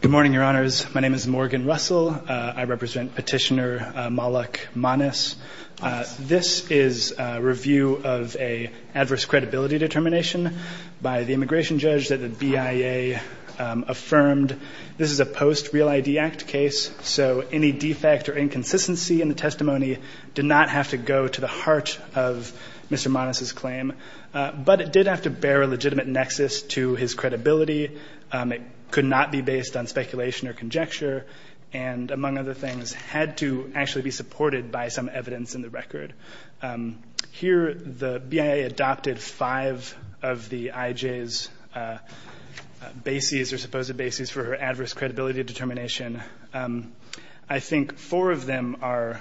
Good morning, Your Honors. My name is Morgan Russell. I represent Petitioner Malak Manes. This is a review of an adverse credibility determination by the immigration judge that the BIA affirmed. This is a post Real ID Act case, so any defect or inconsistency in the testimony did not have to go to the heart of Mr. Manes's claim, but it did have to bear a legitimate nexus to his credibility. It could not be based on speculation or conjecture, and among other things, had to actually be supported by some evidence in the record. Here, the BIA adopted five of the IJ's bases, or supposed bases, for her adverse credibility determination. I think four of them are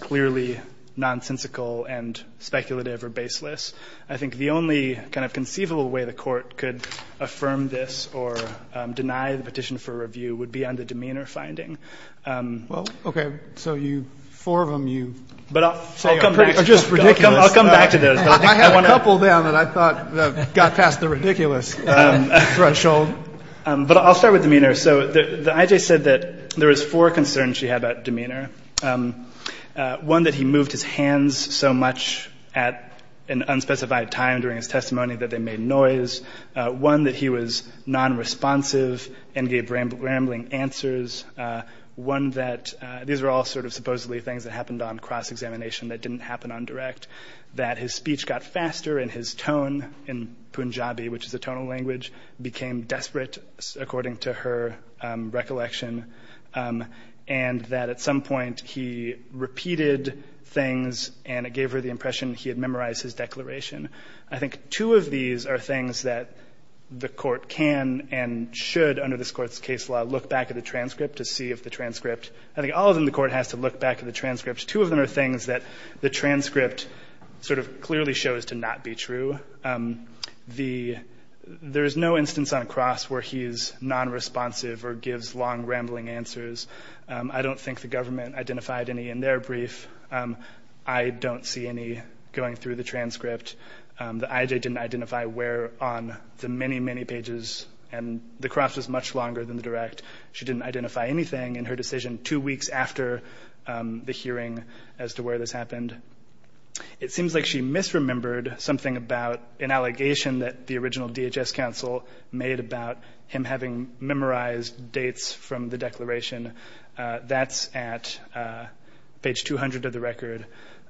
clearly nonsensical and speculative or baseless. I think the only kind of conceivable way the Court could affirm this or deny the petition for review would be on the demeanor finding. Roberts. Well, okay. So you four of them, you say are just ridiculous. Malak Manes I'll come back to those. Roberts. I have a couple of them that I thought got past the ridiculous threshold. Malak Manes But I'll start with demeanor. So the IJ said that there was four concerns she had about demeanor. One, that he moved his hands so much at an unspecified time during his testimony that they made noise. One, that he was non-responsive and gave rambling answers. One, that these were all sort of supposedly things that happened on cross-examination that didn't happen on direct. That his speech got faster and his tone in Punjabi, which is a tonal language, became desperate, according to her recollection. And that at some point he repeated things and it gave her the impression he had memorized his declaration. I think two of these are things that the Court can and should, under this Court's case law, look back at the transcript to see if the transcript, I think all of them the Court has to look back at the transcript. Two of them are things that the transcript sort of clearly shows to not be true. There is no instance on cross where he is non-responsive or gives long rambling answers. I don't think the government identified any in their brief. I don't see any going through the transcript. The IJ didn't identify where on the many, many pages and the cross was much longer than the direct. She didn't identify anything in her decision two weeks after the hearing as to where this happened. It seems like she misremembered something about an allegation that the original DHS counsel made about him having memorized dates from the declaration. That's at page 200 of the record.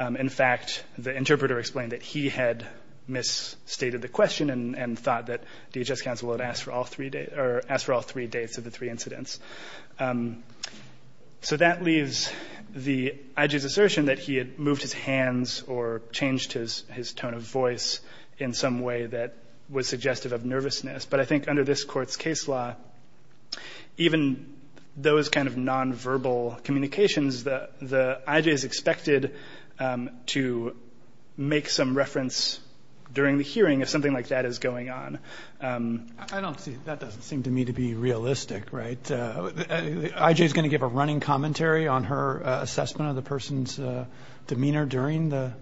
In fact, the interpreter explained that he had misstated the question and thought that DHS counsel had asked for all three dates of the three incidents. So that leaves the IJ's choice in some way that was suggestive of nervousness. But I think under this Court's case law, even those kind of non-verbal communications, the IJ is expected to make some reference during the hearing if something like that is going on. I don't see, that doesn't seem to me to be realistic, right? The IJ is going to give a running commentary on her I don't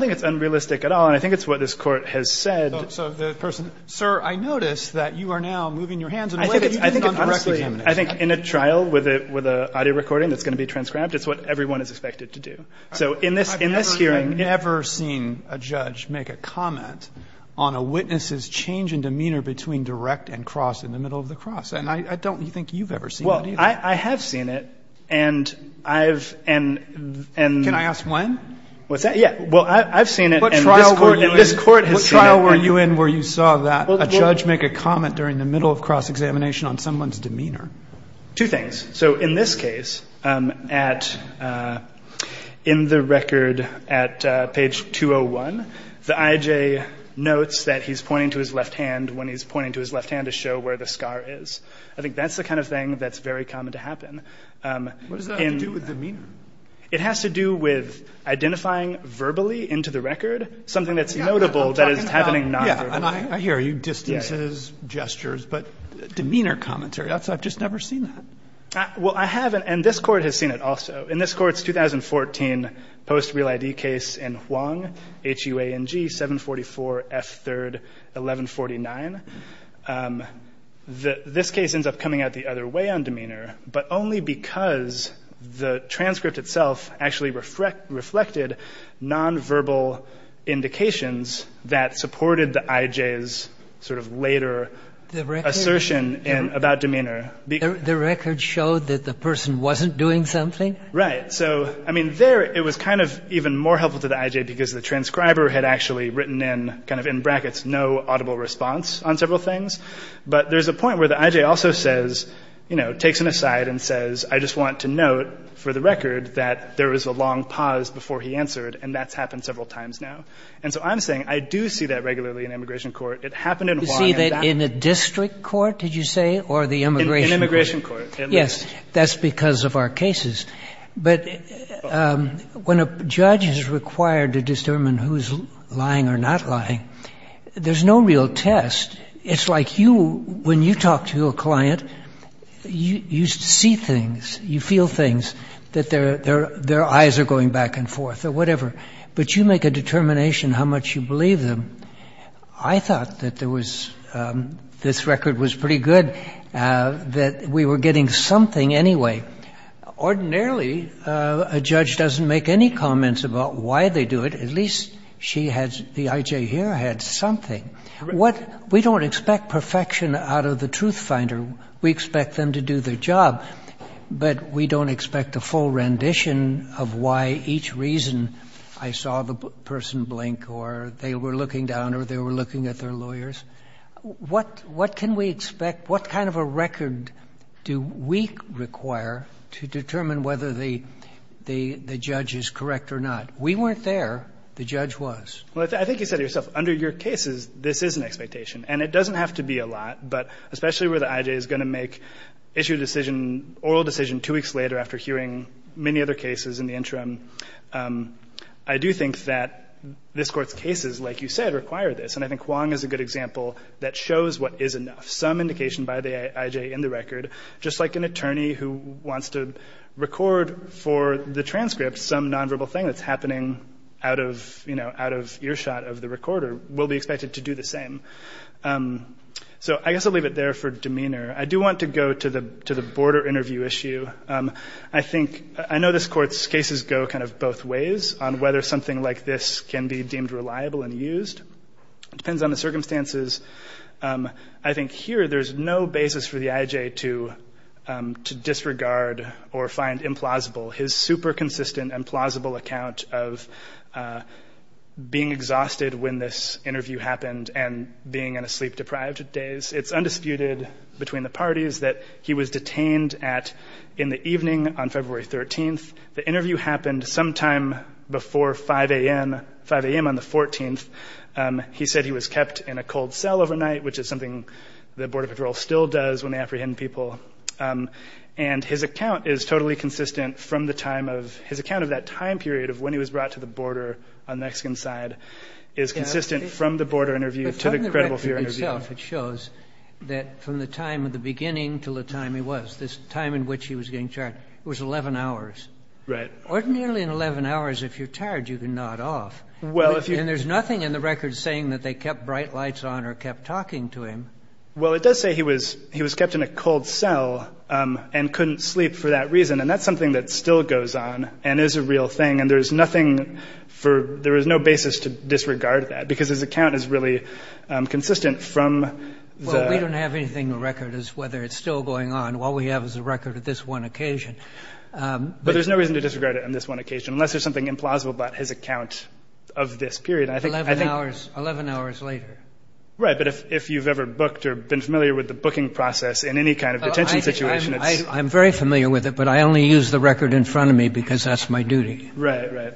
think it's unrealistic at all, and I think it's what this Court has said. So the person, sir, I notice that you are now moving your hands in a way that you didn't I think it's honestly, I think in a trial with a audio recording that's going to be transcribed, it's what everyone is expected to do. So in this hearing... I've never seen a judge make a comment on a witness's change in demeanor between direct and cross in the middle of the cross. And I don't think you've ever seen that either. Well, I have seen it, and I've, and... Can I ask when? What's that? Yeah, well, I've seen it, and this Court has seen it. What trial were you in where you saw that a judge make a comment during the middle of cross-examination on someone's demeanor? Two things. So in this case, in the record at page 201, the IJ notes that he's pointing to his left hand when he's pointing to his left hand to show where the scar is. I think that's the kind of thing that's very common to happen. What does that have to do with demeanor? It has to do with identifying verbally into the record, something that's notable that is happening non-verbally. Yeah, I hear you, distances, gestures, but... Demeanor commentary, I've just never seen that. Well, I have, and this Court has seen it also. In this Court's 2014 post-real ID case in Huang, H-U-A-N-G, 744 F. 3rd, 1149, this case ends up coming out the other way but only because the transcript itself actually reflected non-verbal indications that supported the IJ's sort of later assertion about demeanor. The record showed that the person wasn't doing something? Right. So, I mean, there it was kind of even more helpful to the IJ because the transcriber had actually written in, kind of in brackets, no audible response on several things. But there's a point where the IJ also says, you know, takes an aside and says, I just want to note for the record that there was a long pause before he answered and that's happened several times now. And so I'm saying, I do see that regularly in immigration court. It happened in Huang. You see that in a district court, did you say, or the immigration court? In immigration court. Yes, that's because of our cases. But when a judge is required to determine who's lying or not lying, there's no real test. It's like you, when you talk to a client, you see things, you feel things, that their eyes are going back and forth or whatever. But you make a determination how much you believe them. I thought that there was, this record was pretty good, that we were getting something anyway. Ordinarily, a judge doesn't make any comments about why they do it. At least she had, the IJ here had something. We don't expect perfection out of the truth finder. We expect them to do their job. But we don't expect a full rendition of why each reason I saw the person blink or they were looking down or they were looking at their lawyers. What can we expect? What kind of a record do we require to determine whether the judge is correct or not? We weren't there. The judge was. Well, I think you said it yourself. Under your cases, this is an expectation. And it doesn't have to be a lot. But especially where the IJ is going to make, issue a decision, oral decision two weeks later after hearing many other cases in the interim, I do think that this Court's cases, like you said, require this. And I think Wong is a good example that shows what is enough. Some indication by the IJ in the record, just like an attorney who wants to record for the transcript some nonverbal thing that's happening out of earshot of the recorder, will be expected to do the same. So I guess I'll leave it there for demeanor. I do want to go to the border interview issue. I know this Court's cases go kind of both ways on whether something like this can be deemed reliable and used. It depends on the circumstances. I think here there's no basis for the IJ to disregard or find implausible his super consistent and plausible account of being exhausted when this interview happened and being in a sleep-deprived daze. It's undisputed between the parties that he was detained in the evening on February 13th. The interview happened sometime before 5 a.m. on the 14th. He said he was kept in a cold cell overnight, which is something the Border Patrol still does when they apprehend people. And his account is totally consistent from the time of— his account of that time period of when he was brought to the border on the Mexican side is consistent from the border interview to the credible fear interview. But from the record itself, it shows that from the time of the beginning till the time he was, this time in which he was getting charged, it was 11 hours. Ordinarily in 11 hours, if you're tired, you can nod off. And there's nothing in the record saying that they kept bright lights on or kept talking to him. Well, it does say he was kept in a cold cell and couldn't sleep for that reason. And that's something that still goes on and is a real thing. And there's nothing for—there is no basis to disregard that because his account is really consistent from the— Well, we don't have anything in the record as to whether it's still going on. All we have is the record of this one occasion. But there's no reason to disregard it on this one occasion unless there's something implausible about his account of this period. 11 hours later. Right, but if you've ever booked or been familiar with the booking process in any kind of detention situation, it's— I'm very familiar with it, but I only use the record in front of me because that's my duty. Right, right.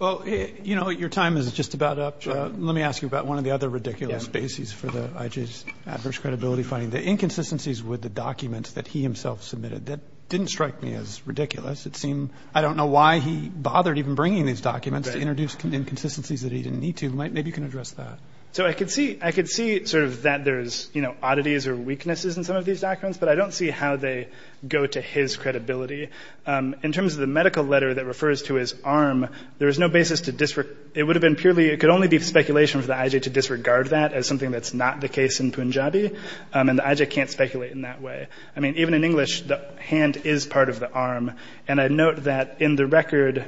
Well, you know, your time is just about up. Let me ask you about one of the other ridiculous bases for the IJ's adverse credibility finding, the inconsistencies with the documents that he himself submitted. That didn't strike me as ridiculous. It seemed—I don't know why he bothered even bringing these documents to introduce inconsistencies that he didn't need to. Maybe you can address that. So I could see sort of that there's oddities or weaknesses in some of these documents, but I don't see how they go to his credibility. In terms of the medical letter that refers to his arm, there is no basis to—it would have been purely— it could only be speculation for the IJ to disregard that as something that's not the case in Punjabi. And the IJ can't speculate in that way. I mean, even in English, the hand is part of the arm. And I note that in the record,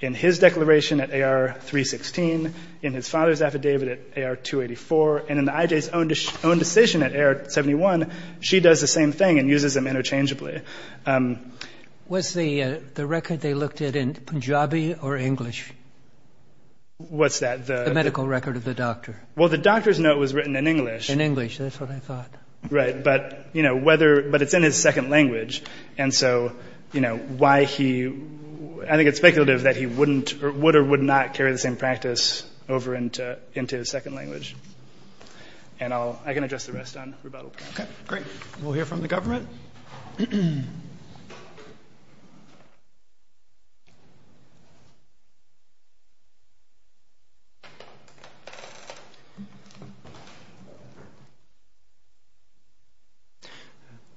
in his declaration at AR-316, in his father's affidavit at AR-284, and in the IJ's own decision at AR-71, she does the same thing and uses them interchangeably. Was the record they looked at in Punjabi or English? What's that? The medical record of the doctor. Well, the doctor's note was written in English. In English. That's what I thought. Right. But, you know, whether—but it's in his second language. And so, you know, why he—I think it's speculative that he wouldn't or would or would not carry the same practice over into his second language. And I'll—I can address the rest on rebuttal. Okay. Great. We'll hear from the government.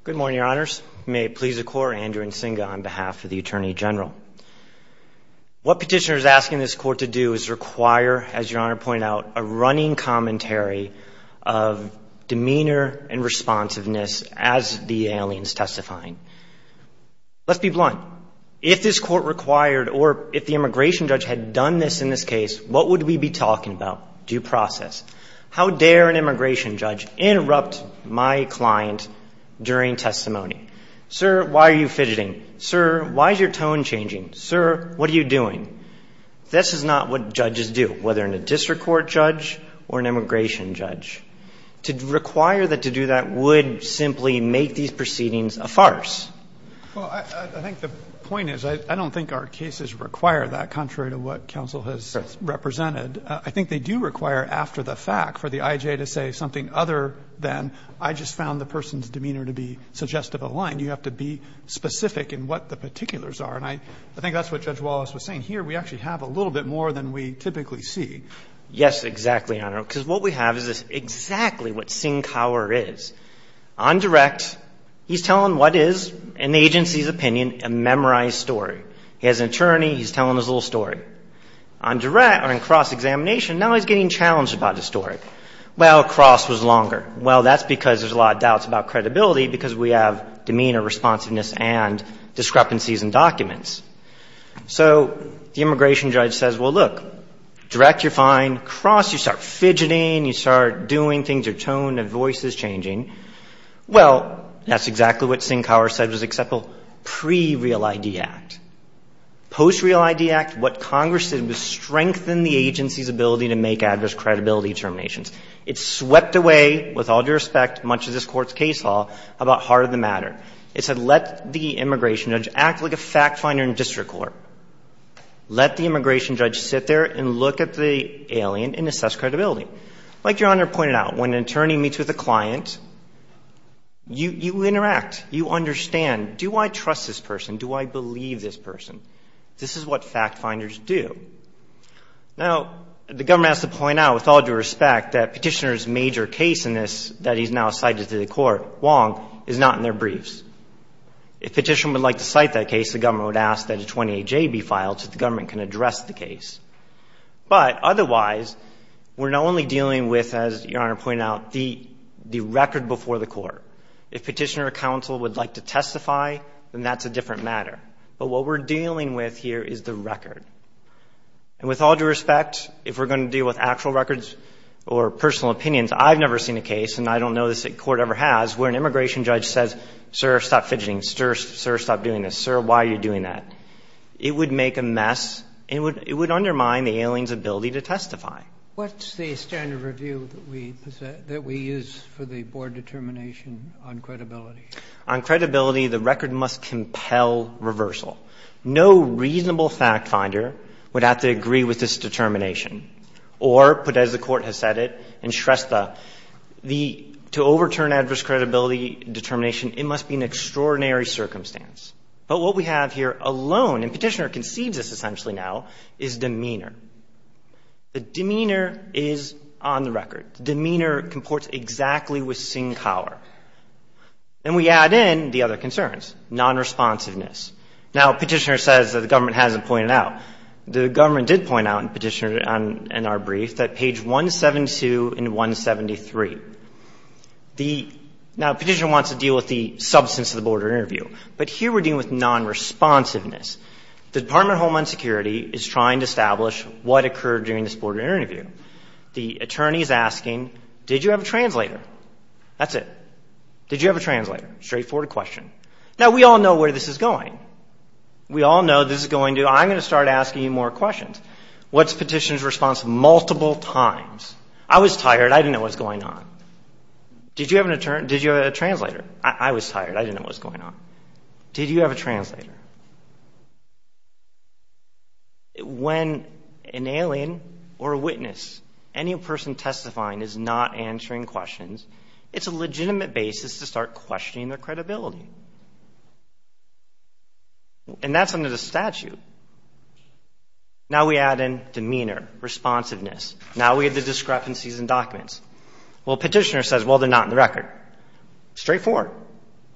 Good morning, Your Honors. May it please the Court, Andrew Nsinga on behalf of the Attorney General. What petitioner is asking this Court to do is require, as Your Honor pointed out, a running commentary of demeanor and responsiveness as the aliens testifying. Let's be blunt. If this Court required or if the immigration judge had done this in this case, what would we be talking about? Due process. How dare an immigration judge interrupt my client during testimony? Sir, why are you fidgeting? Sir, why is your tone changing? Sir, what are you doing? This is not what judges do, whether in a district court judge or an immigration judge. To require that to do that would simply make these proceedings a farce. Well, I think the point is I don't think our cases require that, contrary to what counsel has represented. I think they do require after the fact for the I.J. to say something other than I just found the person's demeanor to be suggestive of the line. You have to be specific in what the particulars are. And I think that's what Judge Wallace was saying. Here we actually have a little bit more than we typically see. Yes, exactly, Your Honor. Because what we have is exactly what Singhower is. On direct, he's telling what is, in the agency's opinion, a memorized story. He has an attorney. He's telling his little story. On direct, on cross-examination, now he's getting challenged about his story. Well, cross was longer. Well, that's because there's a lot of doubts about credibility because we have demeanor, responsiveness, and discrepancies in documents. So the immigration judge says, well, look, direct, you're fine. Cross, you start fidgeting. You start doing things. Your tone of voice is changing. Well, that's exactly what Singhower said was acceptable pre-Real ID Act. Post-Real ID Act, what Congress did was strengthen the agency's ability to make adverse credibility determinations. It swept away, with all due respect, much of this Court's case law about heart of the heart. It said let the immigration judge act like a fact finder in district court. Let the immigration judge sit there and look at the alien and assess credibility. Like Your Honor pointed out, when an attorney meets with a client, you interact. You understand, do I trust this person? Do I believe this person? This is what fact finders do. Now, the government has to point out, with all due respect, that Petitioner's court, Wong, is not in their briefs. If Petitioner would like to cite that case, the government would ask that a 28J be filed so the government can address the case. But otherwise, we're not only dealing with, as Your Honor pointed out, the record before the court. If Petitioner or counsel would like to testify, then that's a different matter. But what we're dealing with here is the record. And with all due respect, if we're going to deal with actual records or personal opinions, I've never seen a case, and I don't know this court ever has, where an immigration judge says, sir, stop fidgeting. Sir, stop doing this. Sir, why are you doing that? It would make a mess. It would undermine the alien's ability to testify. What's the standard review that we use for the board determination on credibility? On credibility, the record must compel reversal. No reasonable fact finder would have to agree with this determination or, put as the to overturn adverse credibility determination. It must be an extraordinary circumstance. But what we have here alone, and Petitioner concedes this essentially now, is demeanor. The demeanor is on the record. The demeanor comports exactly with Singhower. And we add in the other concerns, nonresponsiveness. Now, Petitioner says that the government hasn't pointed it out. The government did point out in Petitioner, in our brief, that page 172 and 173. Now, Petitioner wants to deal with the substance of the board interview. But here we're dealing with nonresponsiveness. The Department of Homeland Security is trying to establish what occurred during this board interview. The attorney is asking, did you have a translator? That's it. Did you have a translator? Straightforward question. Now, we all know where this is going. We all know this is going to, I'm going to start asking you more questions. What's Petitioner's response multiple times? I was tired. I didn't know what was going on. Did you have a translator? I was tired. I didn't know what was going on. Did you have a translator? When an alien or a witness, any person testifying, is not answering questions, it's a legitimate basis to start questioning their credibility. And that's under the statute. Now we add in demeanor, responsiveness. Now we have the discrepancies in documents. Well, Petitioner says, well, they're not in the record. Straightforward.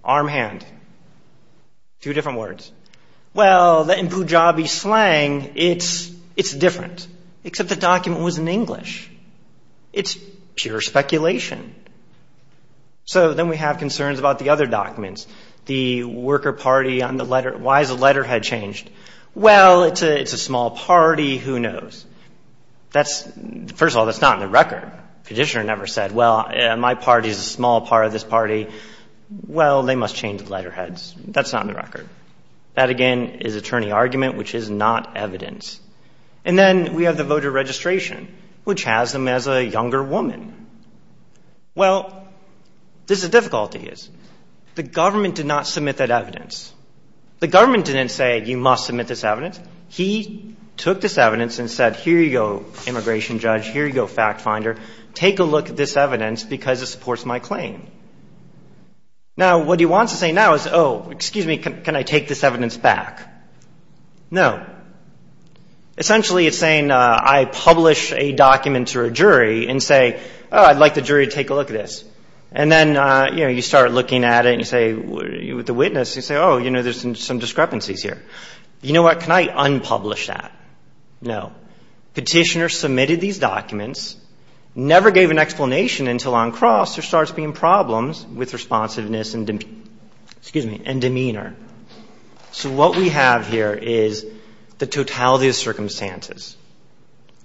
Arm, hand. Two different words. Well, in Pujabi slang, it's different. Except the document was in English. It's pure speculation. So then we have concerns about the other documents. The worker party on the letter. Why is the letterhead changed? Well, it's a small party. Who knows? First of all, that's not in the record. Petitioner never said, well, my party is a small part of this party. Well, they must change the letterheads. That's not in the record. That, again, is attorney argument, which is not evidence. And then we have the voter registration, which has them as a younger woman. Well, this is a difficulty. The government did not submit that evidence. The government didn't say, you must submit this evidence. He took this evidence and said, here you go, immigration judge. Here you go, fact finder. Take a look at this evidence because it supports my claim. Now, what he wants to say now is, oh, excuse me, can I take this evidence back? No. Essentially, it's saying I publish a document to a jury and say, oh, I'd like the jury to take a look at this. And then, you know, you start looking at it and you say, with the witness, you say, oh, you know, there's some discrepancies here. You know what, can I unpublish that? No. Petitioner submitted these documents, never gave an explanation until on cross there starts being problems with responsiveness and demeanor. So what we have here is the totality of circumstances.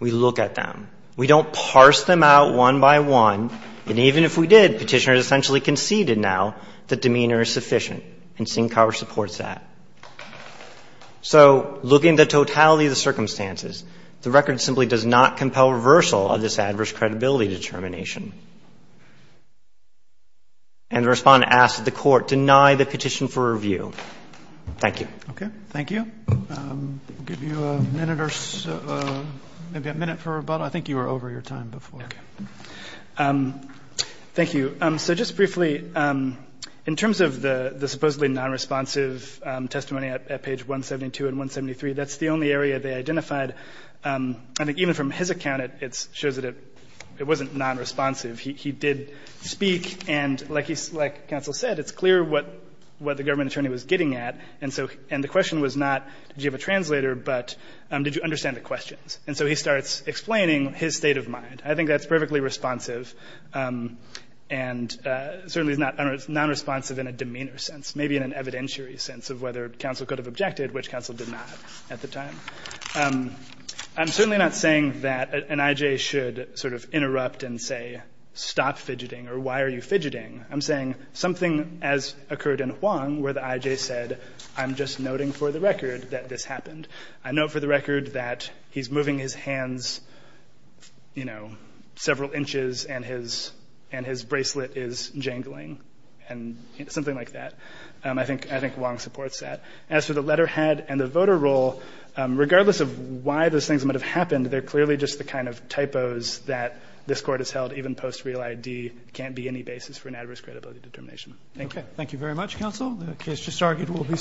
We look at them. We don't parse them out one by one. And even if we did, petitioner essentially conceded now that demeanor is sufficient. And Syncower supports that. So looking at the totality of the circumstances, the record simply does not compel reversal of this adverse credibility determination. And the Respondent asks that the Court deny the petition for review. Thank you. Okay. Thank you. I'll give you a minute or so, maybe a minute for rebuttal. I think you were over your time before. Okay. Thank you. So just briefly, in terms of the supposedly nonresponsive testimony at page 172 and 173, that's the only area they identified. I think even from his account, it shows that it wasn't nonresponsive. He did speak, and like counsel said, it's clear what the government attorney was getting at. And the question was not did you have a translator, but did you understand the questions. And so he starts explaining his state of mind. I think that's perfectly responsive and certainly is not nonresponsive in a demeanor sense, maybe in an evidentiary sense of whether counsel could have objected, which counsel did not at the time. I'm certainly not saying that an I.J. should sort of interrupt and say, stop fidgeting or why are you fidgeting. I'm saying something as occurred in Huang where the I.J. said, I'm just noting for the record that this happened. I note for the record that he's moving his hands, you know, several inches and his bracelet is jangling and something like that. I think Huang supports that. As for the letterhead and the voter roll, regardless of why those things might have happened, they're clearly just the kind of typos that this court has held, even post real I.D., can't be any basis for an adverse credibility determination. Thank you. Thank you very much, counsel. The case just argued will be submitted.